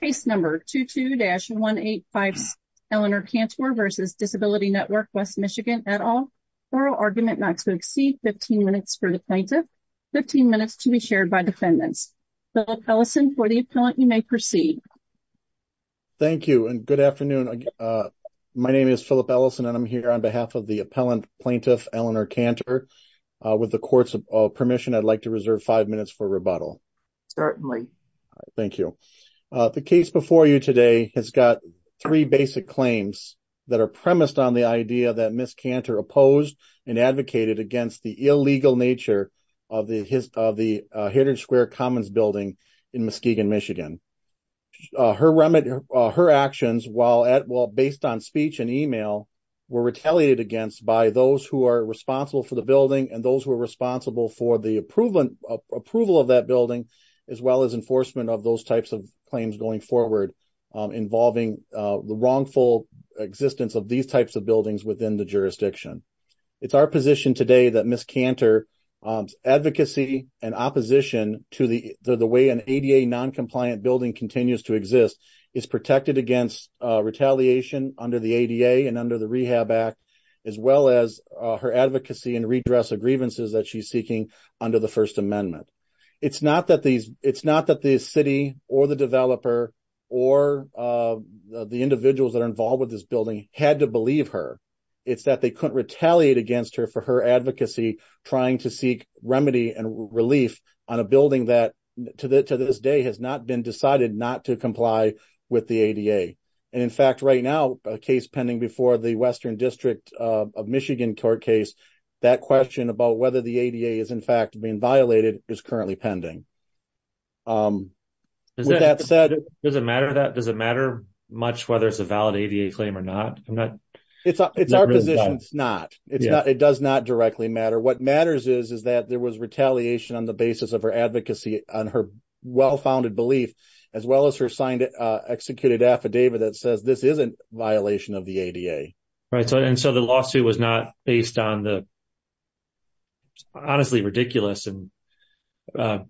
Case number 22-185 Eleanor Canter v. Disability Network, West Michigan, et al. Oral argument not to exceed 15 minutes for the plaintiff, 15 minutes to be shared by defendants. Philip Ellison, for the appellant, you may proceed. Thank you and good afternoon. My name is Philip Ellison and I'm here on behalf of the appellant, plaintiff Eleanor Canter. With the court's permission, I'd like to reserve five minutes for rebuttal. Certainly. Thank you. The case before you today has got three basic claims that are premised on the idea that Ms. Canter opposed and advocated against the illegal nature of the Heritage Square Commons building in Muskegon, Michigan. Her actions, while based on speech and email, were retaliated against by those who are responsible for the building and those who are responsible for the approval of that building, as well as enforcement of those types of claims going forward involving the wrongful existence of these types of buildings within the jurisdiction. It's our position today that Ms. Canter's advocacy and opposition to the way an ADA non-compliant building continues to exist is protected against retaliation under the seeking under the First Amendment. It's not that the city or the developer or the individuals that are involved with this building had to believe her. It's that they couldn't retaliate against her for her advocacy trying to seek remedy and relief on a building that, to this day, has not been decided not to comply with the ADA. In fact, right now, a case pending before the ADA is being violated is currently pending. Does it matter much whether it's a valid ADA claim or not? It's our position it's not. It does not directly matter. What matters is that there was retaliation on the basis of her advocacy on her well-founded belief, as well as her executed affidavit that says this isn't a violation of the ADA. So the lawsuit was not based on the honestly ridiculous and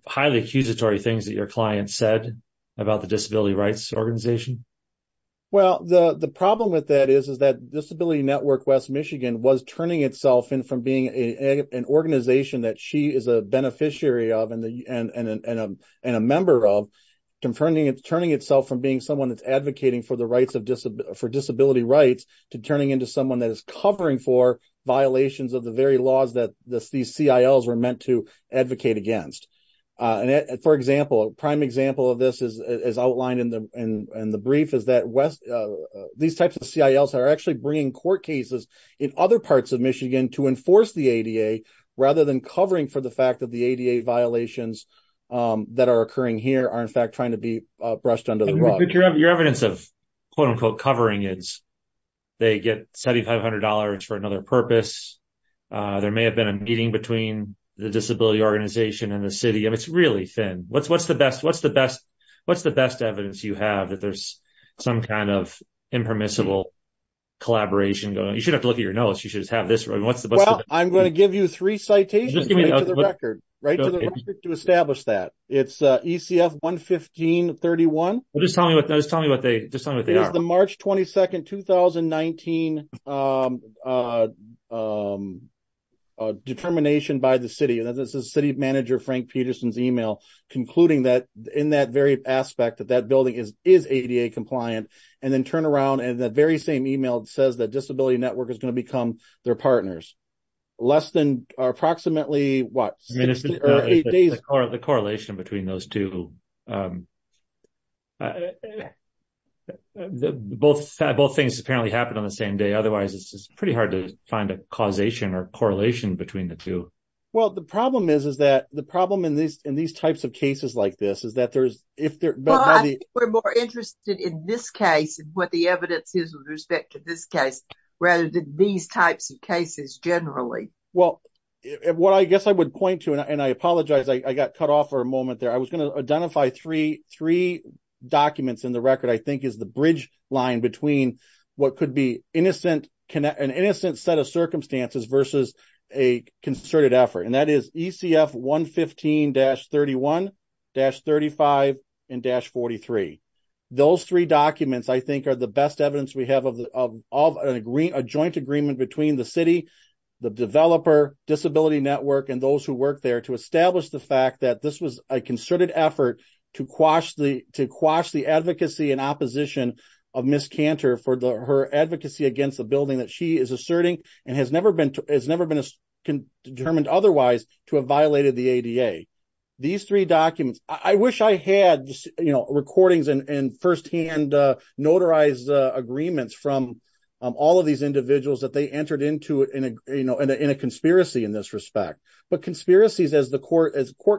highly accusatory things that your client said about the disability rights organization? Well, the problem with that is that Disability Network West Michigan was turning itself in from being an organization that she is a beneficiary of and a member of, turning itself from being someone that's advocating for disability rights to turning into someone that is covering for violations of the very laws that these CILs were meant to advocate against. For example, a prime example of this as outlined in the brief is that these types of CILs are actually bringing court cases in other parts of Michigan to enforce the ADA rather than covering for the fact that the ADA violations that are occurring here are in fact to be brushed under the rug. Your evidence of quote-unquote covering is they get $7,500 for another purpose. There may have been a meeting between the disability organization and the city and it's really thin. What's the best evidence you have that there's some kind of impermissible collaboration going? You shouldn't have to look at your notes. You should just have this. Well, I'm going to give you three citations right to the record to establish that. It's ECF 115.31. Just tell me what they are. It's the March 22, 2019 determination by the city. This is city manager Frank Peterson's email concluding that in that very aspect that that building is ADA compliant and then turn around and the very same email says that Disability Network is going to become their partners. Less than approximately what? Eight days. The correlation between those two. Both things apparently happened on the same day. Otherwise, it's pretty hard to find a causation or correlation between the two. Well, the problem is that the problem in these types of cases like this is that there's... Well, I think we're more interested in this case and what the evidence is with respect to this case rather than these types of cases generally. Well, what I guess I would point to and I apologize, I got cut off for a moment there. I was going to identify three documents in the record I think is the bridge line between what could be an innocent set of circumstances versus a concerted effort. And that is ECF 115-31-35 and-43. Those three documents I think are the best evidence we have of a joint agreement between the developer, Disability Network, and those who work there to establish the fact that this was a concerted effort to quash the advocacy and opposition of Ms. Cantor for her advocacy against the building that she is asserting and has never been determined otherwise to have violated the ADA. These three documents... I wish I had recordings and firsthand notarized agreements from all of these individuals that they entered into in a conspiracy in this respect. But conspiracies as court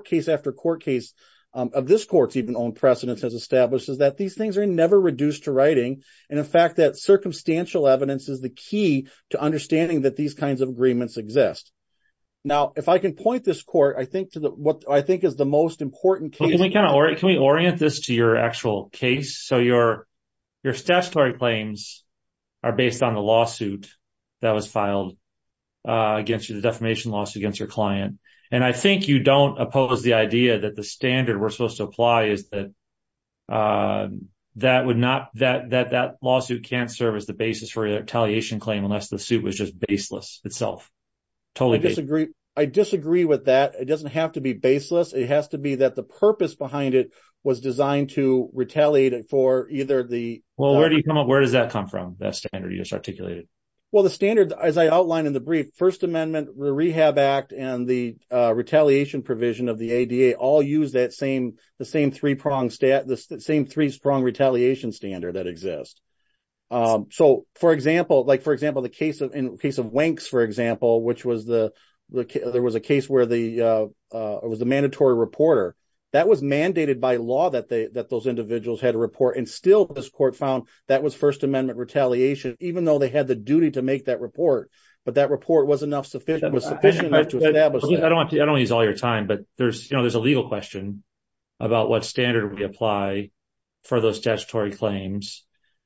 case after court case of this court's even own precedence has established is that these things are never reduced to writing. And in fact, that circumstantial evidence is the key to understanding that these kinds of agreements exist. Now, if I can point this court, I think to what I think is the most important case... are based on the lawsuit that was filed against you, the defamation lawsuit against your client. And I think you don't oppose the idea that the standard we're supposed to apply is that that lawsuit can't serve as the basis for a retaliation claim unless the suit was just baseless itself. Totally disagree. I disagree with that. It doesn't have to be baseless. It has to be that the purpose behind it was designed to retaliate for either the... Where does that come from, that standard you just articulated? Well, the standard, as I outlined in the brief, First Amendment, the Rehab Act, and the retaliation provision of the ADA all use that same three-pronged retaliation standard that exists. So, for example, in the case of Wanks, for example, there was a case where there was a mandatory reporter. That was mandated by law that those individuals had to report. And still, this court found that was First Amendment retaliation, even though they had the duty to make that report. But that report was sufficient enough to establish that. I don't want to use all your time, but there's a legal question about what standard we apply for those statutory claims.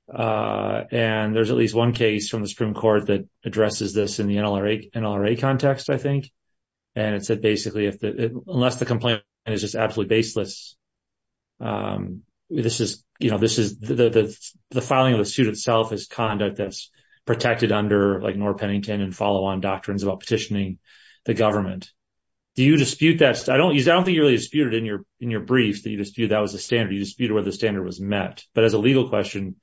And there's at least one case from the Supreme Court that addresses this in the NLRA context, I think. And it said, basically, unless the complaint is just absolutely baseless, the filing of the suit itself is conduct that's protected under, like, Norr Pennington and follow-on doctrines about petitioning the government. Do you dispute that? I don't think you really disputed in your brief that you disputed that was the standard. You disputed whether the standard was met. But as a legal question...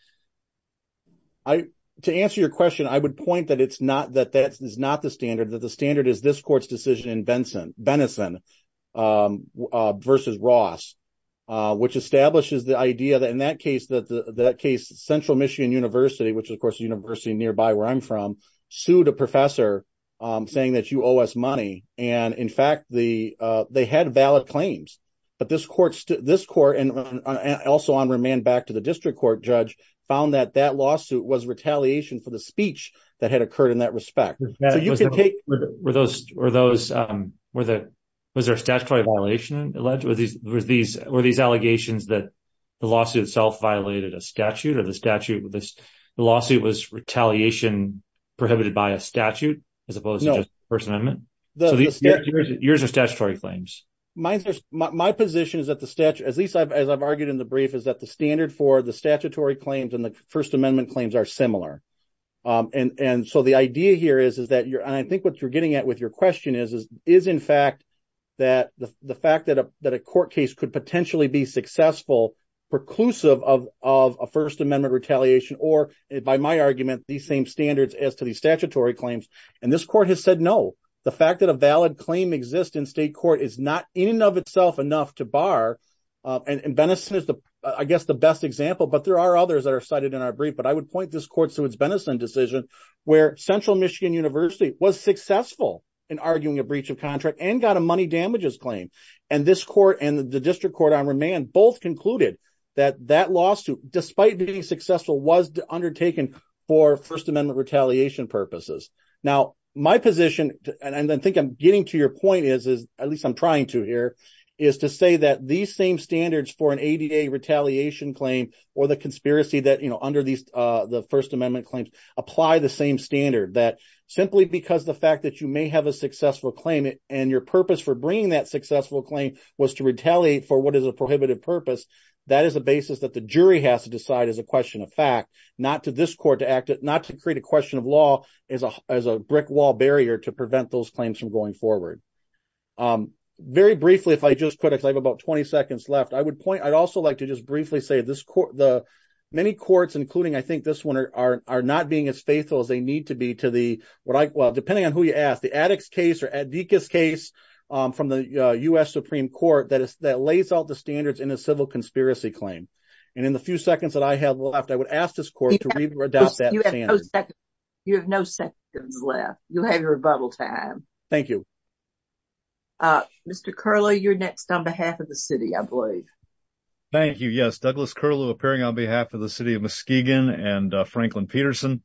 To answer your question, I would point that that is not the standard, that the standard is this which establishes the idea that in that case, Central Michigan University, which is, of course, a university nearby where I'm from, sued a professor saying that you owe us money. And in fact, they had valid claims. But this court, and also on remand back to the district court judge, found that that lawsuit was retaliation for the speech that had occurred in that respect. So you can take... Was there a statutory violation alleged? Were these allegations that the lawsuit itself violated a statute or the statute was retaliation prohibited by a statute as opposed to First Amendment? Yours are statutory claims. My position is that the statute, at least as I've argued in the brief, is that the standard for the statutory claims and the First Amendment claims are similar. And so the idea here is that you're... And I think what you're getting at with your question is, is in fact that the fact that a court case could potentially be successful, preclusive of a First Amendment retaliation, or by my argument, the same standards as to the statutory claims. And this court has said no. The fact that a valid claim exists in state court is not in and of itself enough to bar. And Benison is, I guess, the best example, but there are others that are cited in our brief. But I would point this court to its Benison decision, where Central Michigan University was successful in arguing a breach of contract and got a money damages claim. And this court and the district court on remand both concluded that that lawsuit, despite being successful, was undertaken for First Amendment retaliation purposes. Now, my position, and I think I'm getting to your point is, at least I'm trying to here, is to say that these same standards for an ADA retaliation claim, or the conspiracy that under the First Amendment claims, apply the same standard. That simply because the fact that you may have a successful claim, and your purpose for bringing that successful claim was to retaliate for what is a prohibitive purpose, that is a basis that the jury has to decide as a question of fact, not to this court to act, not to create a question of law as a brick wall barrier to prevent those claims from going forward. Very briefly, if I just could, I have about 20 seconds left, I would point, I'd also like to just briefly say this court, the many courts, including I think this one are not being as faithful as they need to be to the, well, depending on who you ask, the Attucks case or Adekas case from the U.S. Supreme Court that lays out the standards in a civil conspiracy claim. And in the few seconds that I have left, I would ask this court to adopt that standard. You have no seconds left. You'll have your rebuttal time. Thank you. Mr. Curlew, you're next on behalf of the city, I believe. Thank you. Yes, Douglas Curlew, appearing on behalf of the city of Muskegon and Franklin Peterson.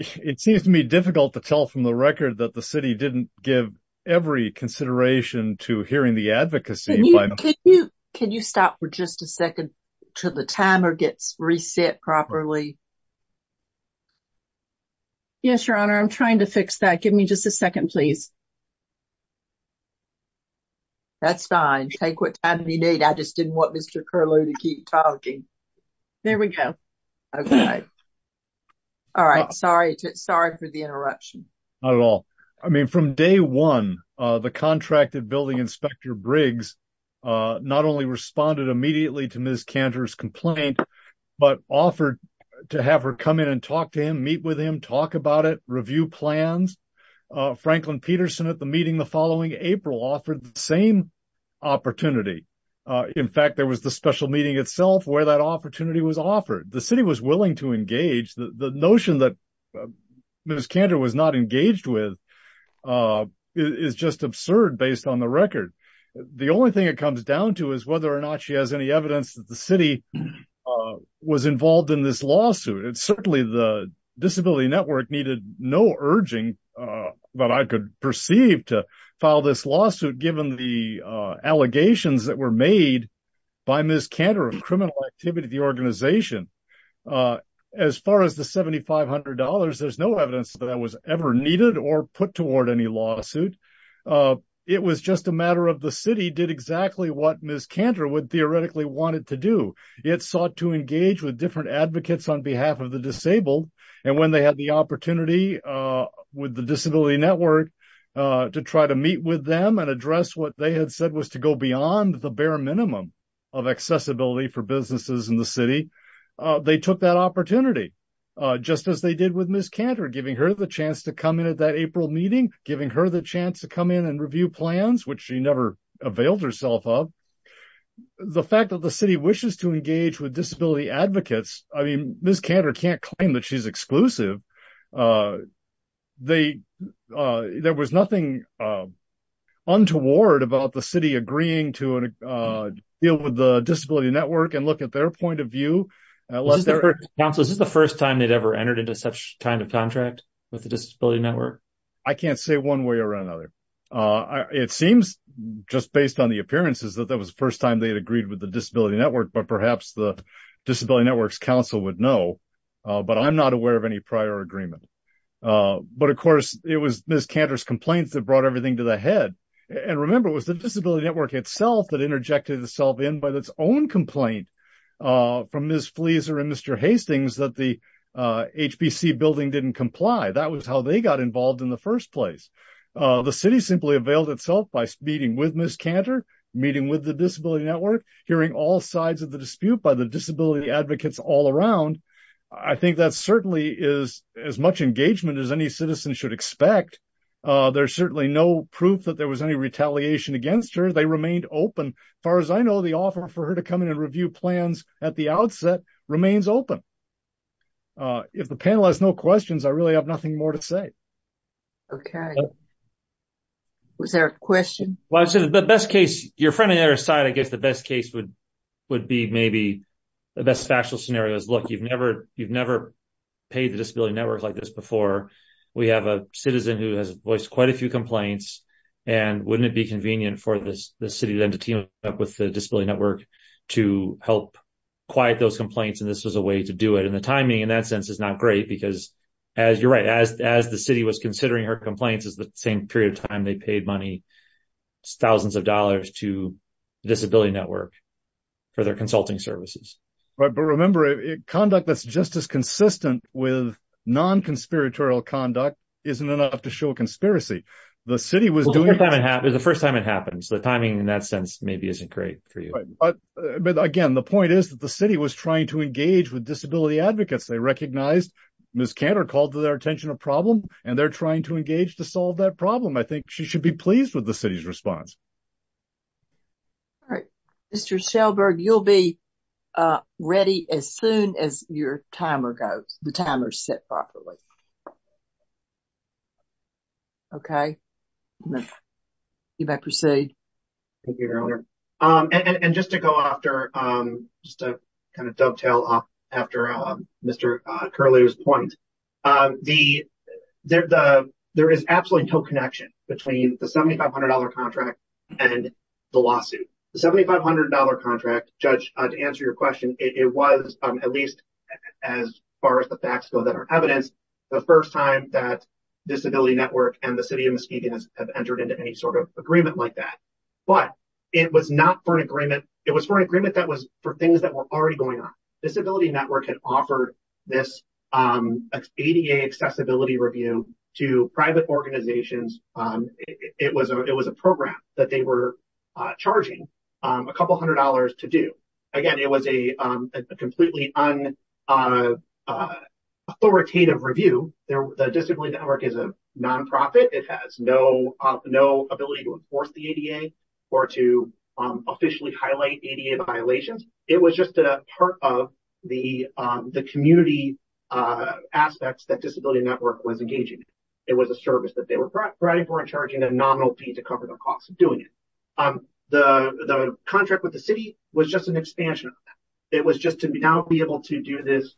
It seems to me difficult to tell from the record that the city didn't give every consideration to hearing the advocacy. Can you stop for just a second till the timer gets reset properly? Yes, Your Honor. I'm trying to fix that. Give me just a second, please. That's fine. Take what time you need. I just didn't want Mr. Curlew to keep talking. There we go. Okay. All right. Sorry. Sorry for the interruption. Not at all. I mean, from day one, the contracted building inspector Briggs not only responded immediately to Ms. Cantor's complaint, but offered to have her come in and talk to him, meet with him, talk about it, review plans. Franklin Peterson, at the meeting the following April, offered the same opportunity. In fact, there was the special meeting itself where that opportunity was offered. The city was willing to engage. The notion that Ms. Cantor was involved in this lawsuit, certainly the disability network needed no urging that I could perceive to file this lawsuit given the allegations that were made by Ms. Cantor of criminal activity to the organization. As far as the $7,500, there's no evidence that that was ever needed or put toward any lawsuit. It was just a matter of the city did exactly what Ms. Cantor would theoretically want it to do. It sought to engage with different advocates on behalf of the disabled. When they had the opportunity with the disability network to try to meet with them and address what they had said was to go beyond the bare minimum of accessibility for businesses in the city, they took that opportunity just as they did with Ms. Cantor. The fact that the city wishes to engage with disability advocates, I mean, Ms. Cantor can't claim that she's exclusive. There was nothing untoward about the city agreeing to deal with the disability network and look at their point of view. Is this the first time they'd ever entered into such kind of contract with the disability network? I can't say one way or another. It seems just based on the appearances that that was the first time they had agreed with the disability network, but perhaps the disability network's council would know, but I'm not aware of any prior agreement. But of course, it was Ms. Cantor's complaints that brought everything to the head. And remember, it was the disability network itself that and Mr. Hastings that the HBC building didn't comply. That was how they got involved in the first place. The city simply availed itself by meeting with Ms. Cantor, meeting with the disability network, hearing all sides of the dispute by the disability advocates all around. I think that certainly is as much engagement as any citizen should expect. There's certainly no proof that there was any retaliation against her. They remained open. As far as I know, the offer for her to come in and review plans at the outset remains open. If the panel has no questions, I really have nothing more to say. Okay. Was there a question? Well, I'd say the best case, your friend on the other side, I guess the best case would be maybe the best factual scenario is look, you've never paid the disability network like this before. We have a citizen who has voiced quite a few complaints, and wouldn't it be convenient for the city then with the disability network to help quiet those complaints, and this was a way to do it. The timing in that sense is not great because as you're right, as the city was considering her complaints is the same period of time they paid money, thousands of dollars to disability network for their consulting services. Right. But remember, conduct that's just as consistent with non-conspiratorial conduct isn't enough to show a conspiracy. The city was doing- The first time it happens, the timing in that sense maybe isn't great for you. But again, the point is that the city was trying to engage with disability advocates. They recognized Ms. Cantor called to their attention a problem, and they're trying to engage to solve that problem. I think she should be pleased with the city's response. All right. Mr. Shelberg, you'll be ready as soon as your timer goes, the timer's set properly. Okay. You may proceed. Thank you, Your Honor. And just to go after, just to kind of dovetail off after Mr. Curlew's point, there is absolutely no connection between the $7,500 contract and the lawsuit. The $7,500 contract, Judge, to answer your question, it was at least as far as the facts go that are evidence, the first time that Disability Network and the City of Muskegon have entered into any sort of agreement like that. But it was not for an agreement. It was for an agreement that was for things that were already going on. Disability Network had offered this ADA accessibility review to private organizations. It was a program that they were charging a couple hundred dollars to do. Again, it was a completely unauthoritative review. The Disability Network is a nonprofit. It has no ability to enforce the ADA or to officially highlight ADA violations. It was just a part of the community aspects that Disability Network was engaging in. It was a service that they were providing for and charging a nominal fee to cover the cost of doing it. The contract with the City was just an expansion of that. It was just to now be able to do this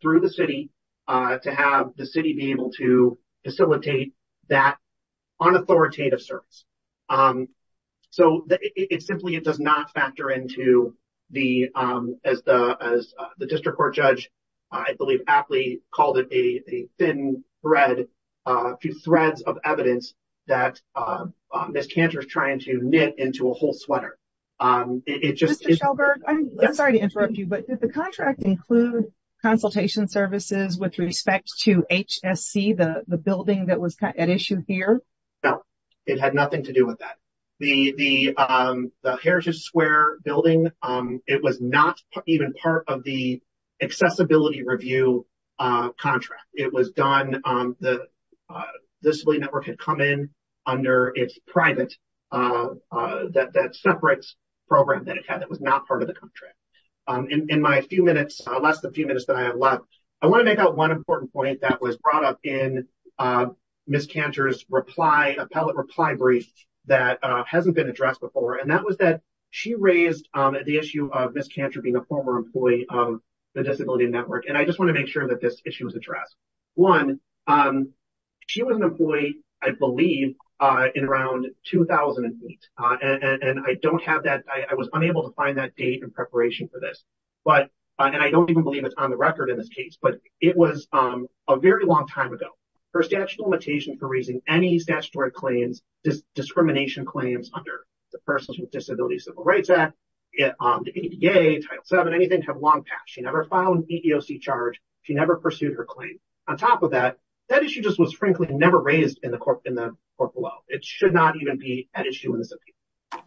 through the City to have the City be able to facilitate that unauthoritative service. So, it simply does not factor into the, as the District Court Judge, I believe, aptly called it, a thin thread, a few threads of evidence that Ms. Cantor is trying to knit into a whole sweater. It just... Mr. Shelberg, I'm sorry to interrupt you, but did the contract include consultation services with respect to HSC, the building that was at issue here? No, it had nothing to do with that. The Heritage Square building, it was not even part of the accessibility review contract. It was done, the Disability Network had come in under its private, that separate program that it had that was not part of the contract. In my few minutes, less than a few minutes that I have left, I want to make out one important point that was brought up in Ms. Cantor's reply, appellate reply brief that hasn't been addressed before, and that she raised the issue of Ms. Cantor being a former employee of the Disability Network. And I just want to make sure that this issue is addressed. One, she was an employee, I believe, in around 2008. And I don't have that, I was unable to find that date in preparation for this. But, and I don't even believe it's on the record in this case, but it was a very long time ago. Her statute limitation for raising any statutory claims, discrimination claims under the persons Disability Civil Rights Act, the ADA, Title VII, anything had long past. She never filed an EEOC charge. She never pursued her claim. On top of that, that issue just was frankly never raised in the court below. It should not even be an issue in this appeal.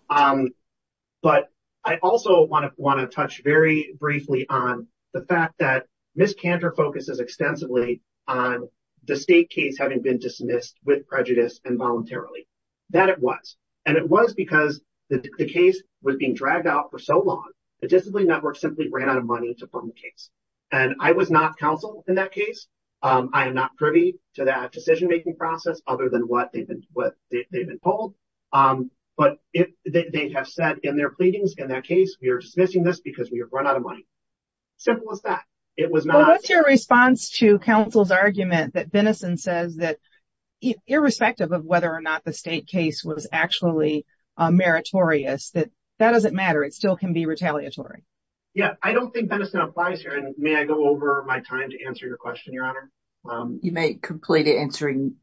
But I also want to touch very briefly on the fact that Ms. Cantor focuses extensively on the state case having been the case was being dragged out for so long, the Disability Network simply ran out of money to firm the case. And I was not counsel in that case. I am not privy to that decision-making process, other than what they've been told. But they have said in their pleadings in that case, we are dismissing this because we have run out of money. Simple as that. It was not... Well, what's your response to counsel's argument that Benison says that irrespective of whether or not the state case was actually meritorious, that that doesn't matter, it still can be retaliatory? Yeah, I don't think Benison applies here. And may I go over my time to answer your question, Your Honor? You may complete answering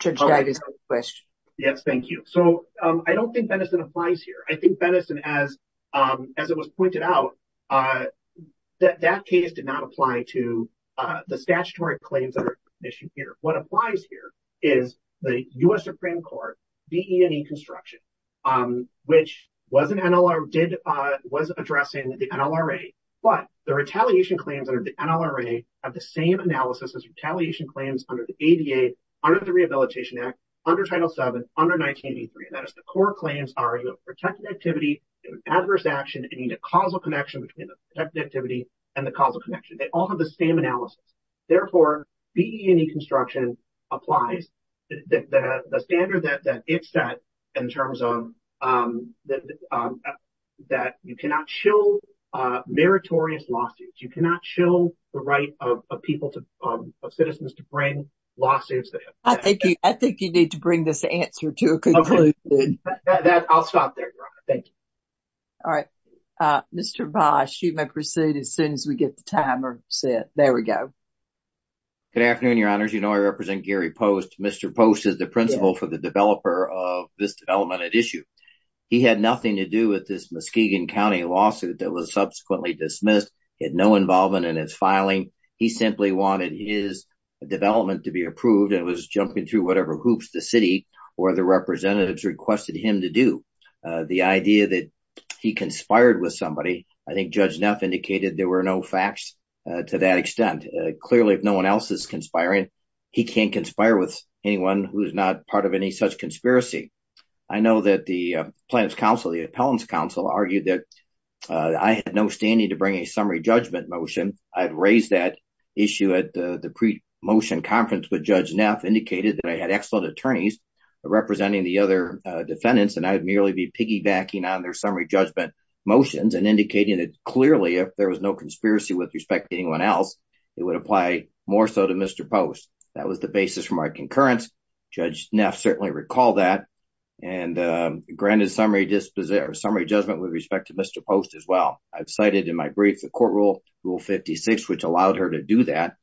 Judge Dyer's question. Yes, thank you. So, I don't think Benison applies here. I think Benison, as it was pointed out, that case did not apply to the statutory claims that are issued here. What applies here is the U.S. Supreme Court, B, E, and E construction, which was addressing the NLRA. But the retaliation claims under the NLRA have the same analysis as retaliation claims under the ADA, under the Rehabilitation Act, under Title VII, under 1983. And that is the core claims are you have protected activity, you have adverse action, and you need a causal connection between the protected activity and the causal connection. They all have the same analysis. Therefore, B, E, and E construction applies. The standard that it's set in terms of that you cannot shill meritorious lawsuits. You cannot shill the right of citizens to bring lawsuits. I think you need to bring this answer to a conclusion. I'll stop there, Your Honor. Thank you. All right. Mr. Bosch, you may proceed as soon as we get the timer set. There we go. Good afternoon, Your Honors. You know, I represent Gary Post. Mr. Post is the principal for the developer of this development at issue. He had nothing to do with this Muskegon County lawsuit that was subsequently dismissed. He had no involvement in its filing. He simply wanted his development to be approved and was jumping through whatever hoops the city or the representatives requested him to do. The idea that he conspired with somebody, I think Judge Neff indicated there were no facts to that he can't conspire with anyone who is not part of any such conspiracy. I know that the plaintiff's counsel, the appellant's counsel, argued that I had no standing to bring a summary judgment motion. I had raised that issue at the pre-motion conference with Judge Neff, indicated that I had excellent attorneys representing the other defendants, and I would merely be piggybacking on their summary judgment motions and indicating that clearly if there was no conspiracy with respect to anyone else, it would apply more so to Mr. Post. That was the basis for my concurrence. Judge Neff certainly recalled that and granted summary judgment with respect to Mr. Post as well. I've cited in my brief the court rule, rule 56, which allowed her to do that,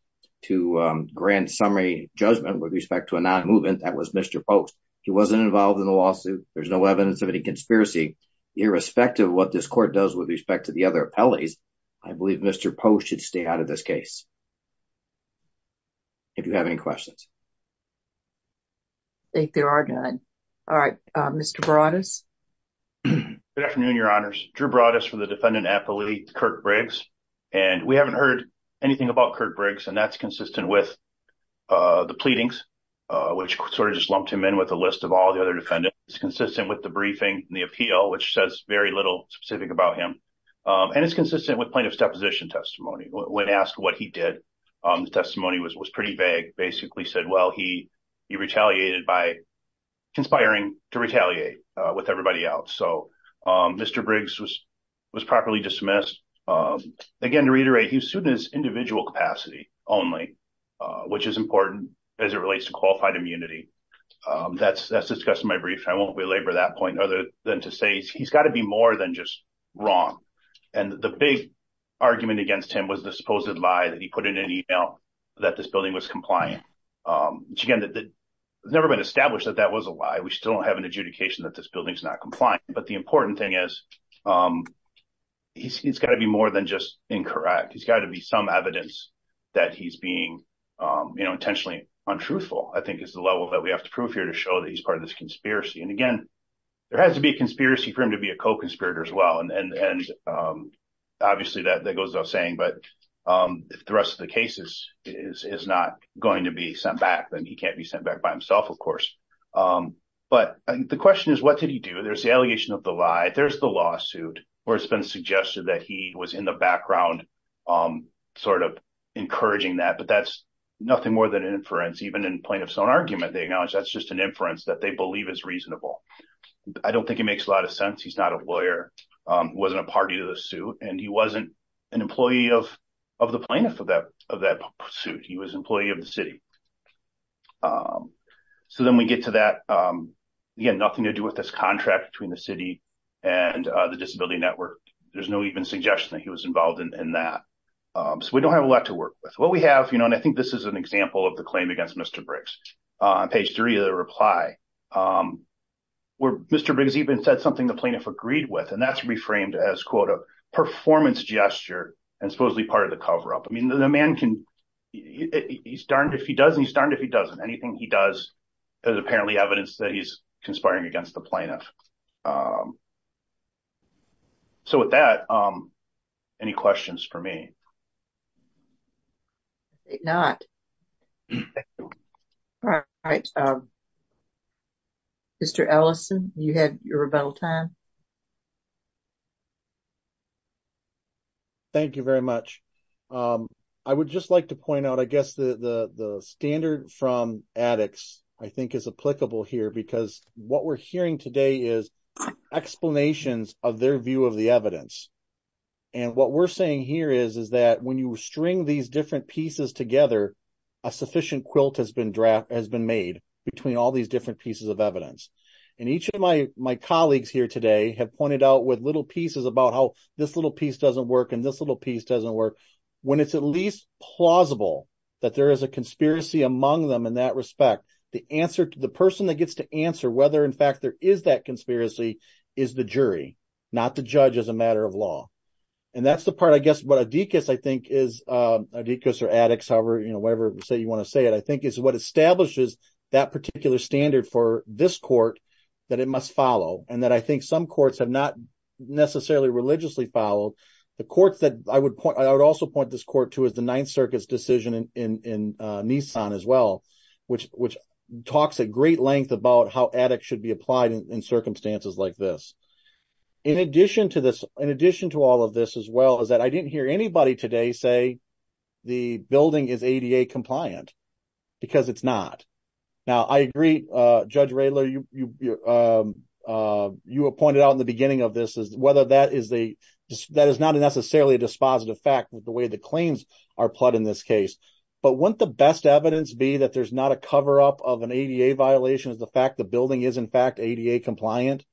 to grant summary judgment with respect to a non-movement that was Mr. Post. He wasn't involved in the lawsuit. There's no evidence of any conspiracy irrespective of what this court does with respect to the other appellees. I believe Mr. Post should stay out of this case. If you have any questions. I think there are none. All right, Mr. Broadus. Good afternoon, your honors. Drew Broadus for the defendant appellate, Kirk Briggs. We haven't heard anything about Kirk Briggs, and that's consistent with the pleadings, which sort of just lumped him in with a list of all the other defendants. It's consistent with the briefing and the appeal, which says very little specific about him. It's consistent with well, he retaliated by conspiring to retaliate with everybody else. Mr. Briggs was properly dismissed. Again, to reiterate, he was sued in his individual capacity only, which is important as it relates to qualified immunity. That's discussed in my brief. I won't belabor that point other than to say he's got to be more than just wrong. The big argument against him was the fact that this building is not compliant. Again, it's never been established that that was a lie. We still don't have an adjudication that this building is not compliant, but the important thing is he's got to be more than just incorrect. He's got to be some evidence that he's being intentionally untruthful, I think is the level that we have to prove here to show that he's part of this conspiracy. Again, there has to be a conspiracy for him to be a co-conspirator as well. And obviously, that goes without saying, but if the rest of the case is not going to be sent back, then he can't be sent back by himself, of course. But the question is, what did he do? There's the allegation of the lie. There's the lawsuit where it's been suggested that he was in the background sort of encouraging that, but that's nothing more than an inference. Even in plaintiff's own argument, they acknowledge that's just an inference that they believe is reasonable. I don't think it makes a lot of sense. He's not a lawyer, wasn't a party to the suit, and he wasn't an employee of the plaintiff of that suit. He was an employee of the city. So then we get to that, again, nothing to do with this contract between the city and the disability network. There's no even suggestion that he was involved in that. So we don't have a lot to work with. What we have, and I think this is an example of the reply, where Mr. Briggs even said something the plaintiff agreed with, and that's reframed as, quote, a performance gesture and supposedly part of the cover-up. I mean, the man can, he's darned if he does, and he's darned if he doesn't. Anything he does is apparently evidence that he's conspiring against the plaintiff. So with that, any questions for me? I think not. All right. Mr. Ellison, you had your rebuttal time. Thank you very much. I would just like to point out, I guess, the standard from addicts, I think, is applicable here, because what we're hearing today is explanations of their view of the evidence. And what we're saying here is, is that when you string these different pieces together, a sufficient quilt has been made between all these different pieces of evidence. And each of my colleagues here today have pointed out with little pieces about how this little piece doesn't work and this little piece doesn't work. When it's at least plausible that there is a conspiracy among them in that respect, the person that gets to answer whether, in fact, there is that conspiracy is the jury, not the judge as a matter of law. And that's the part, I guess, what Adekis, I think, is, Adekis or addicts, however, you know, whatever say you want to say it, I think is what establishes that particular standard for this court that it must follow. And that I think some courts have not necessarily religiously followed. The courts that I would point, I would also point this court to is the Ninth Circuit's decision in Nissan as well, which talks at great length about how addicts should be applied in circumstances like this. In addition to this, in addition to all of this as well, is that I didn't hear anybody today say the building is ADA compliant because it's not. Now, I agree, Judge Rayler, you pointed out in the beginning of this is whether that is the, that is not necessarily a dispositive fact with the way the claims are put in this case. But wouldn't the best evidence be that there's not a cover-up of an ADA violation of the fact the building is, in fact, ADA compliant?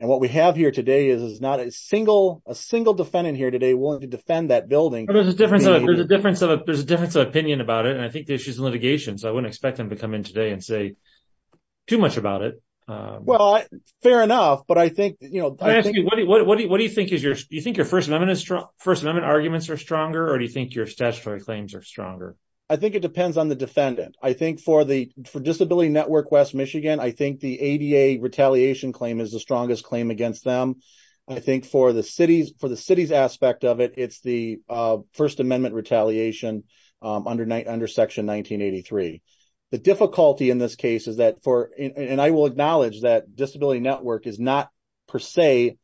And what we have here today is not a single, a single defendant here today willing to defend that building. But there's a difference of, there's a difference of, there's a difference of opinion about it. And I think the issues of litigation, so I wouldn't expect him to come in today and say too much about it. Well, fair enough. But I think, you know, what do you think is your, do you think your First Amendment, First Amendment arguments are stronger or do you think your statutory claims are stronger? I think it depends on the defendant. I think for the, for Disability Network West Michigan, I think the ADA retaliation claim is the strongest claim against them. I think for the city's, for the city's aspect of it, it's the First Amendment retaliation under Section 1983. The difficulty in this case is that for, and I will acknowledge that Disability Network is not per se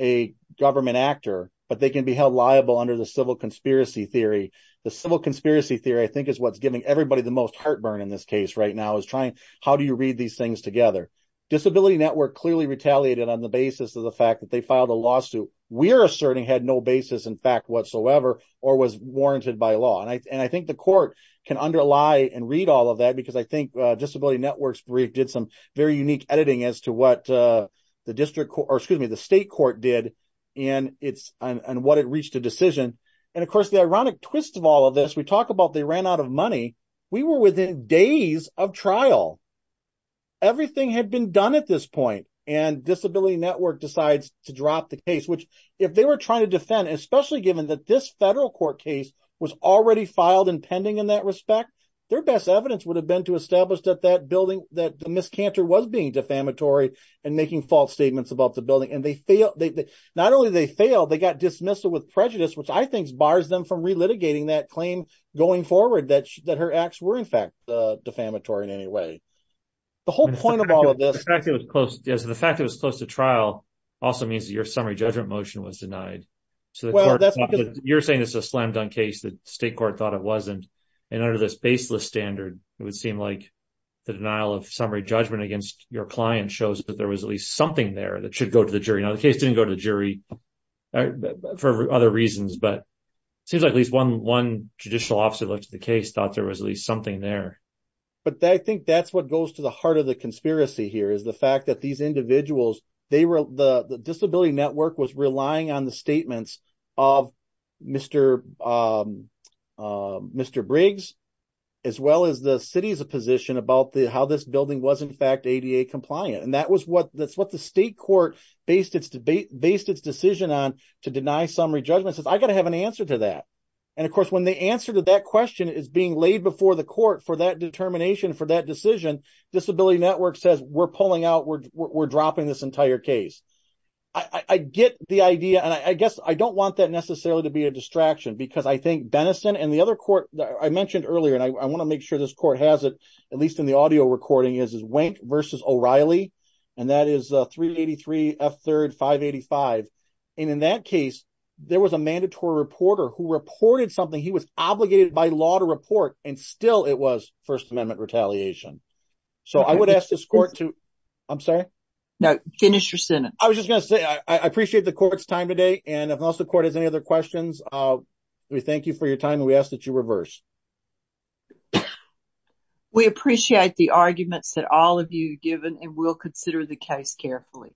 a government actor, but they can be held liable under the civil conspiracy theory. The civil conspiracy theory, I think, is what's giving everybody the most heartburn in this case right now is trying, how do you read these things together? Disability Network clearly retaliated on the basis of the fact that they filed a lawsuit. We're asserting had no basis in fact whatsoever or was warranted by law. And I, and I think the court can underlie and read all of that because I think Disability Network's brief did some very unique editing as to what the district, or excuse me, the state court did and it's, and what it reached a decision. And of course the ironic twist of all of this, we talk about they ran out of money. We were within days of trial. Everything had been done at this point and Disability Network decides to drop the case, which if they were trying to defend, especially given that this federal court case was already filed and pending in that respect, their best evidence would have been to establish that that building, that the miscanter was being defamatory and making false statements about the building. And they fail, not only did they fail, they got dismissed with prejudice, which I think bars them from relitigating that claim going forward that, that her acts were in fact defamatory in any way. The whole point of all of this. The fact it was close to trial also means that your summary judgment motion was denied. So you're saying this is a slam state court thought it wasn't. And under this baseless standard, it would seem like the denial of summary judgment against your client shows that there was at least something there that should go to the jury. Now the case didn't go to the jury for other reasons, but it seems like at least one, one judicial officer looked at the case, thought there was at least something there. But I think that's what goes to the heart of the conspiracy here is the fact that these um, um, Mr. Briggs, as well as the city's a position about the, how this building was in fact ADA compliant. And that was what, that's what the state court based its debate, based its decision on to deny summary judgment says I got to have an answer to that. And of course, when the answer to that question is being laid before the court for that determination, for that decision, disability network says we're pulling out, we're dropping this entire case. I get the other court that I mentioned earlier, and I want to make sure this court has it, at least in the audio recording is, is Wink versus O'Reilly. And that is a 383 F third 585. And in that case, there was a mandatory reporter who reported something he was obligated by law to report. And still it was first amendment retaliation. So I would ask this court to, I'm sorry. No, finish your sentence. I was just going to say, I appreciate the court's time today. And if the court has any other questions, we thank you for your time. And we ask that you reverse. We appreciate the arguments that all of you given and we'll consider the case carefully.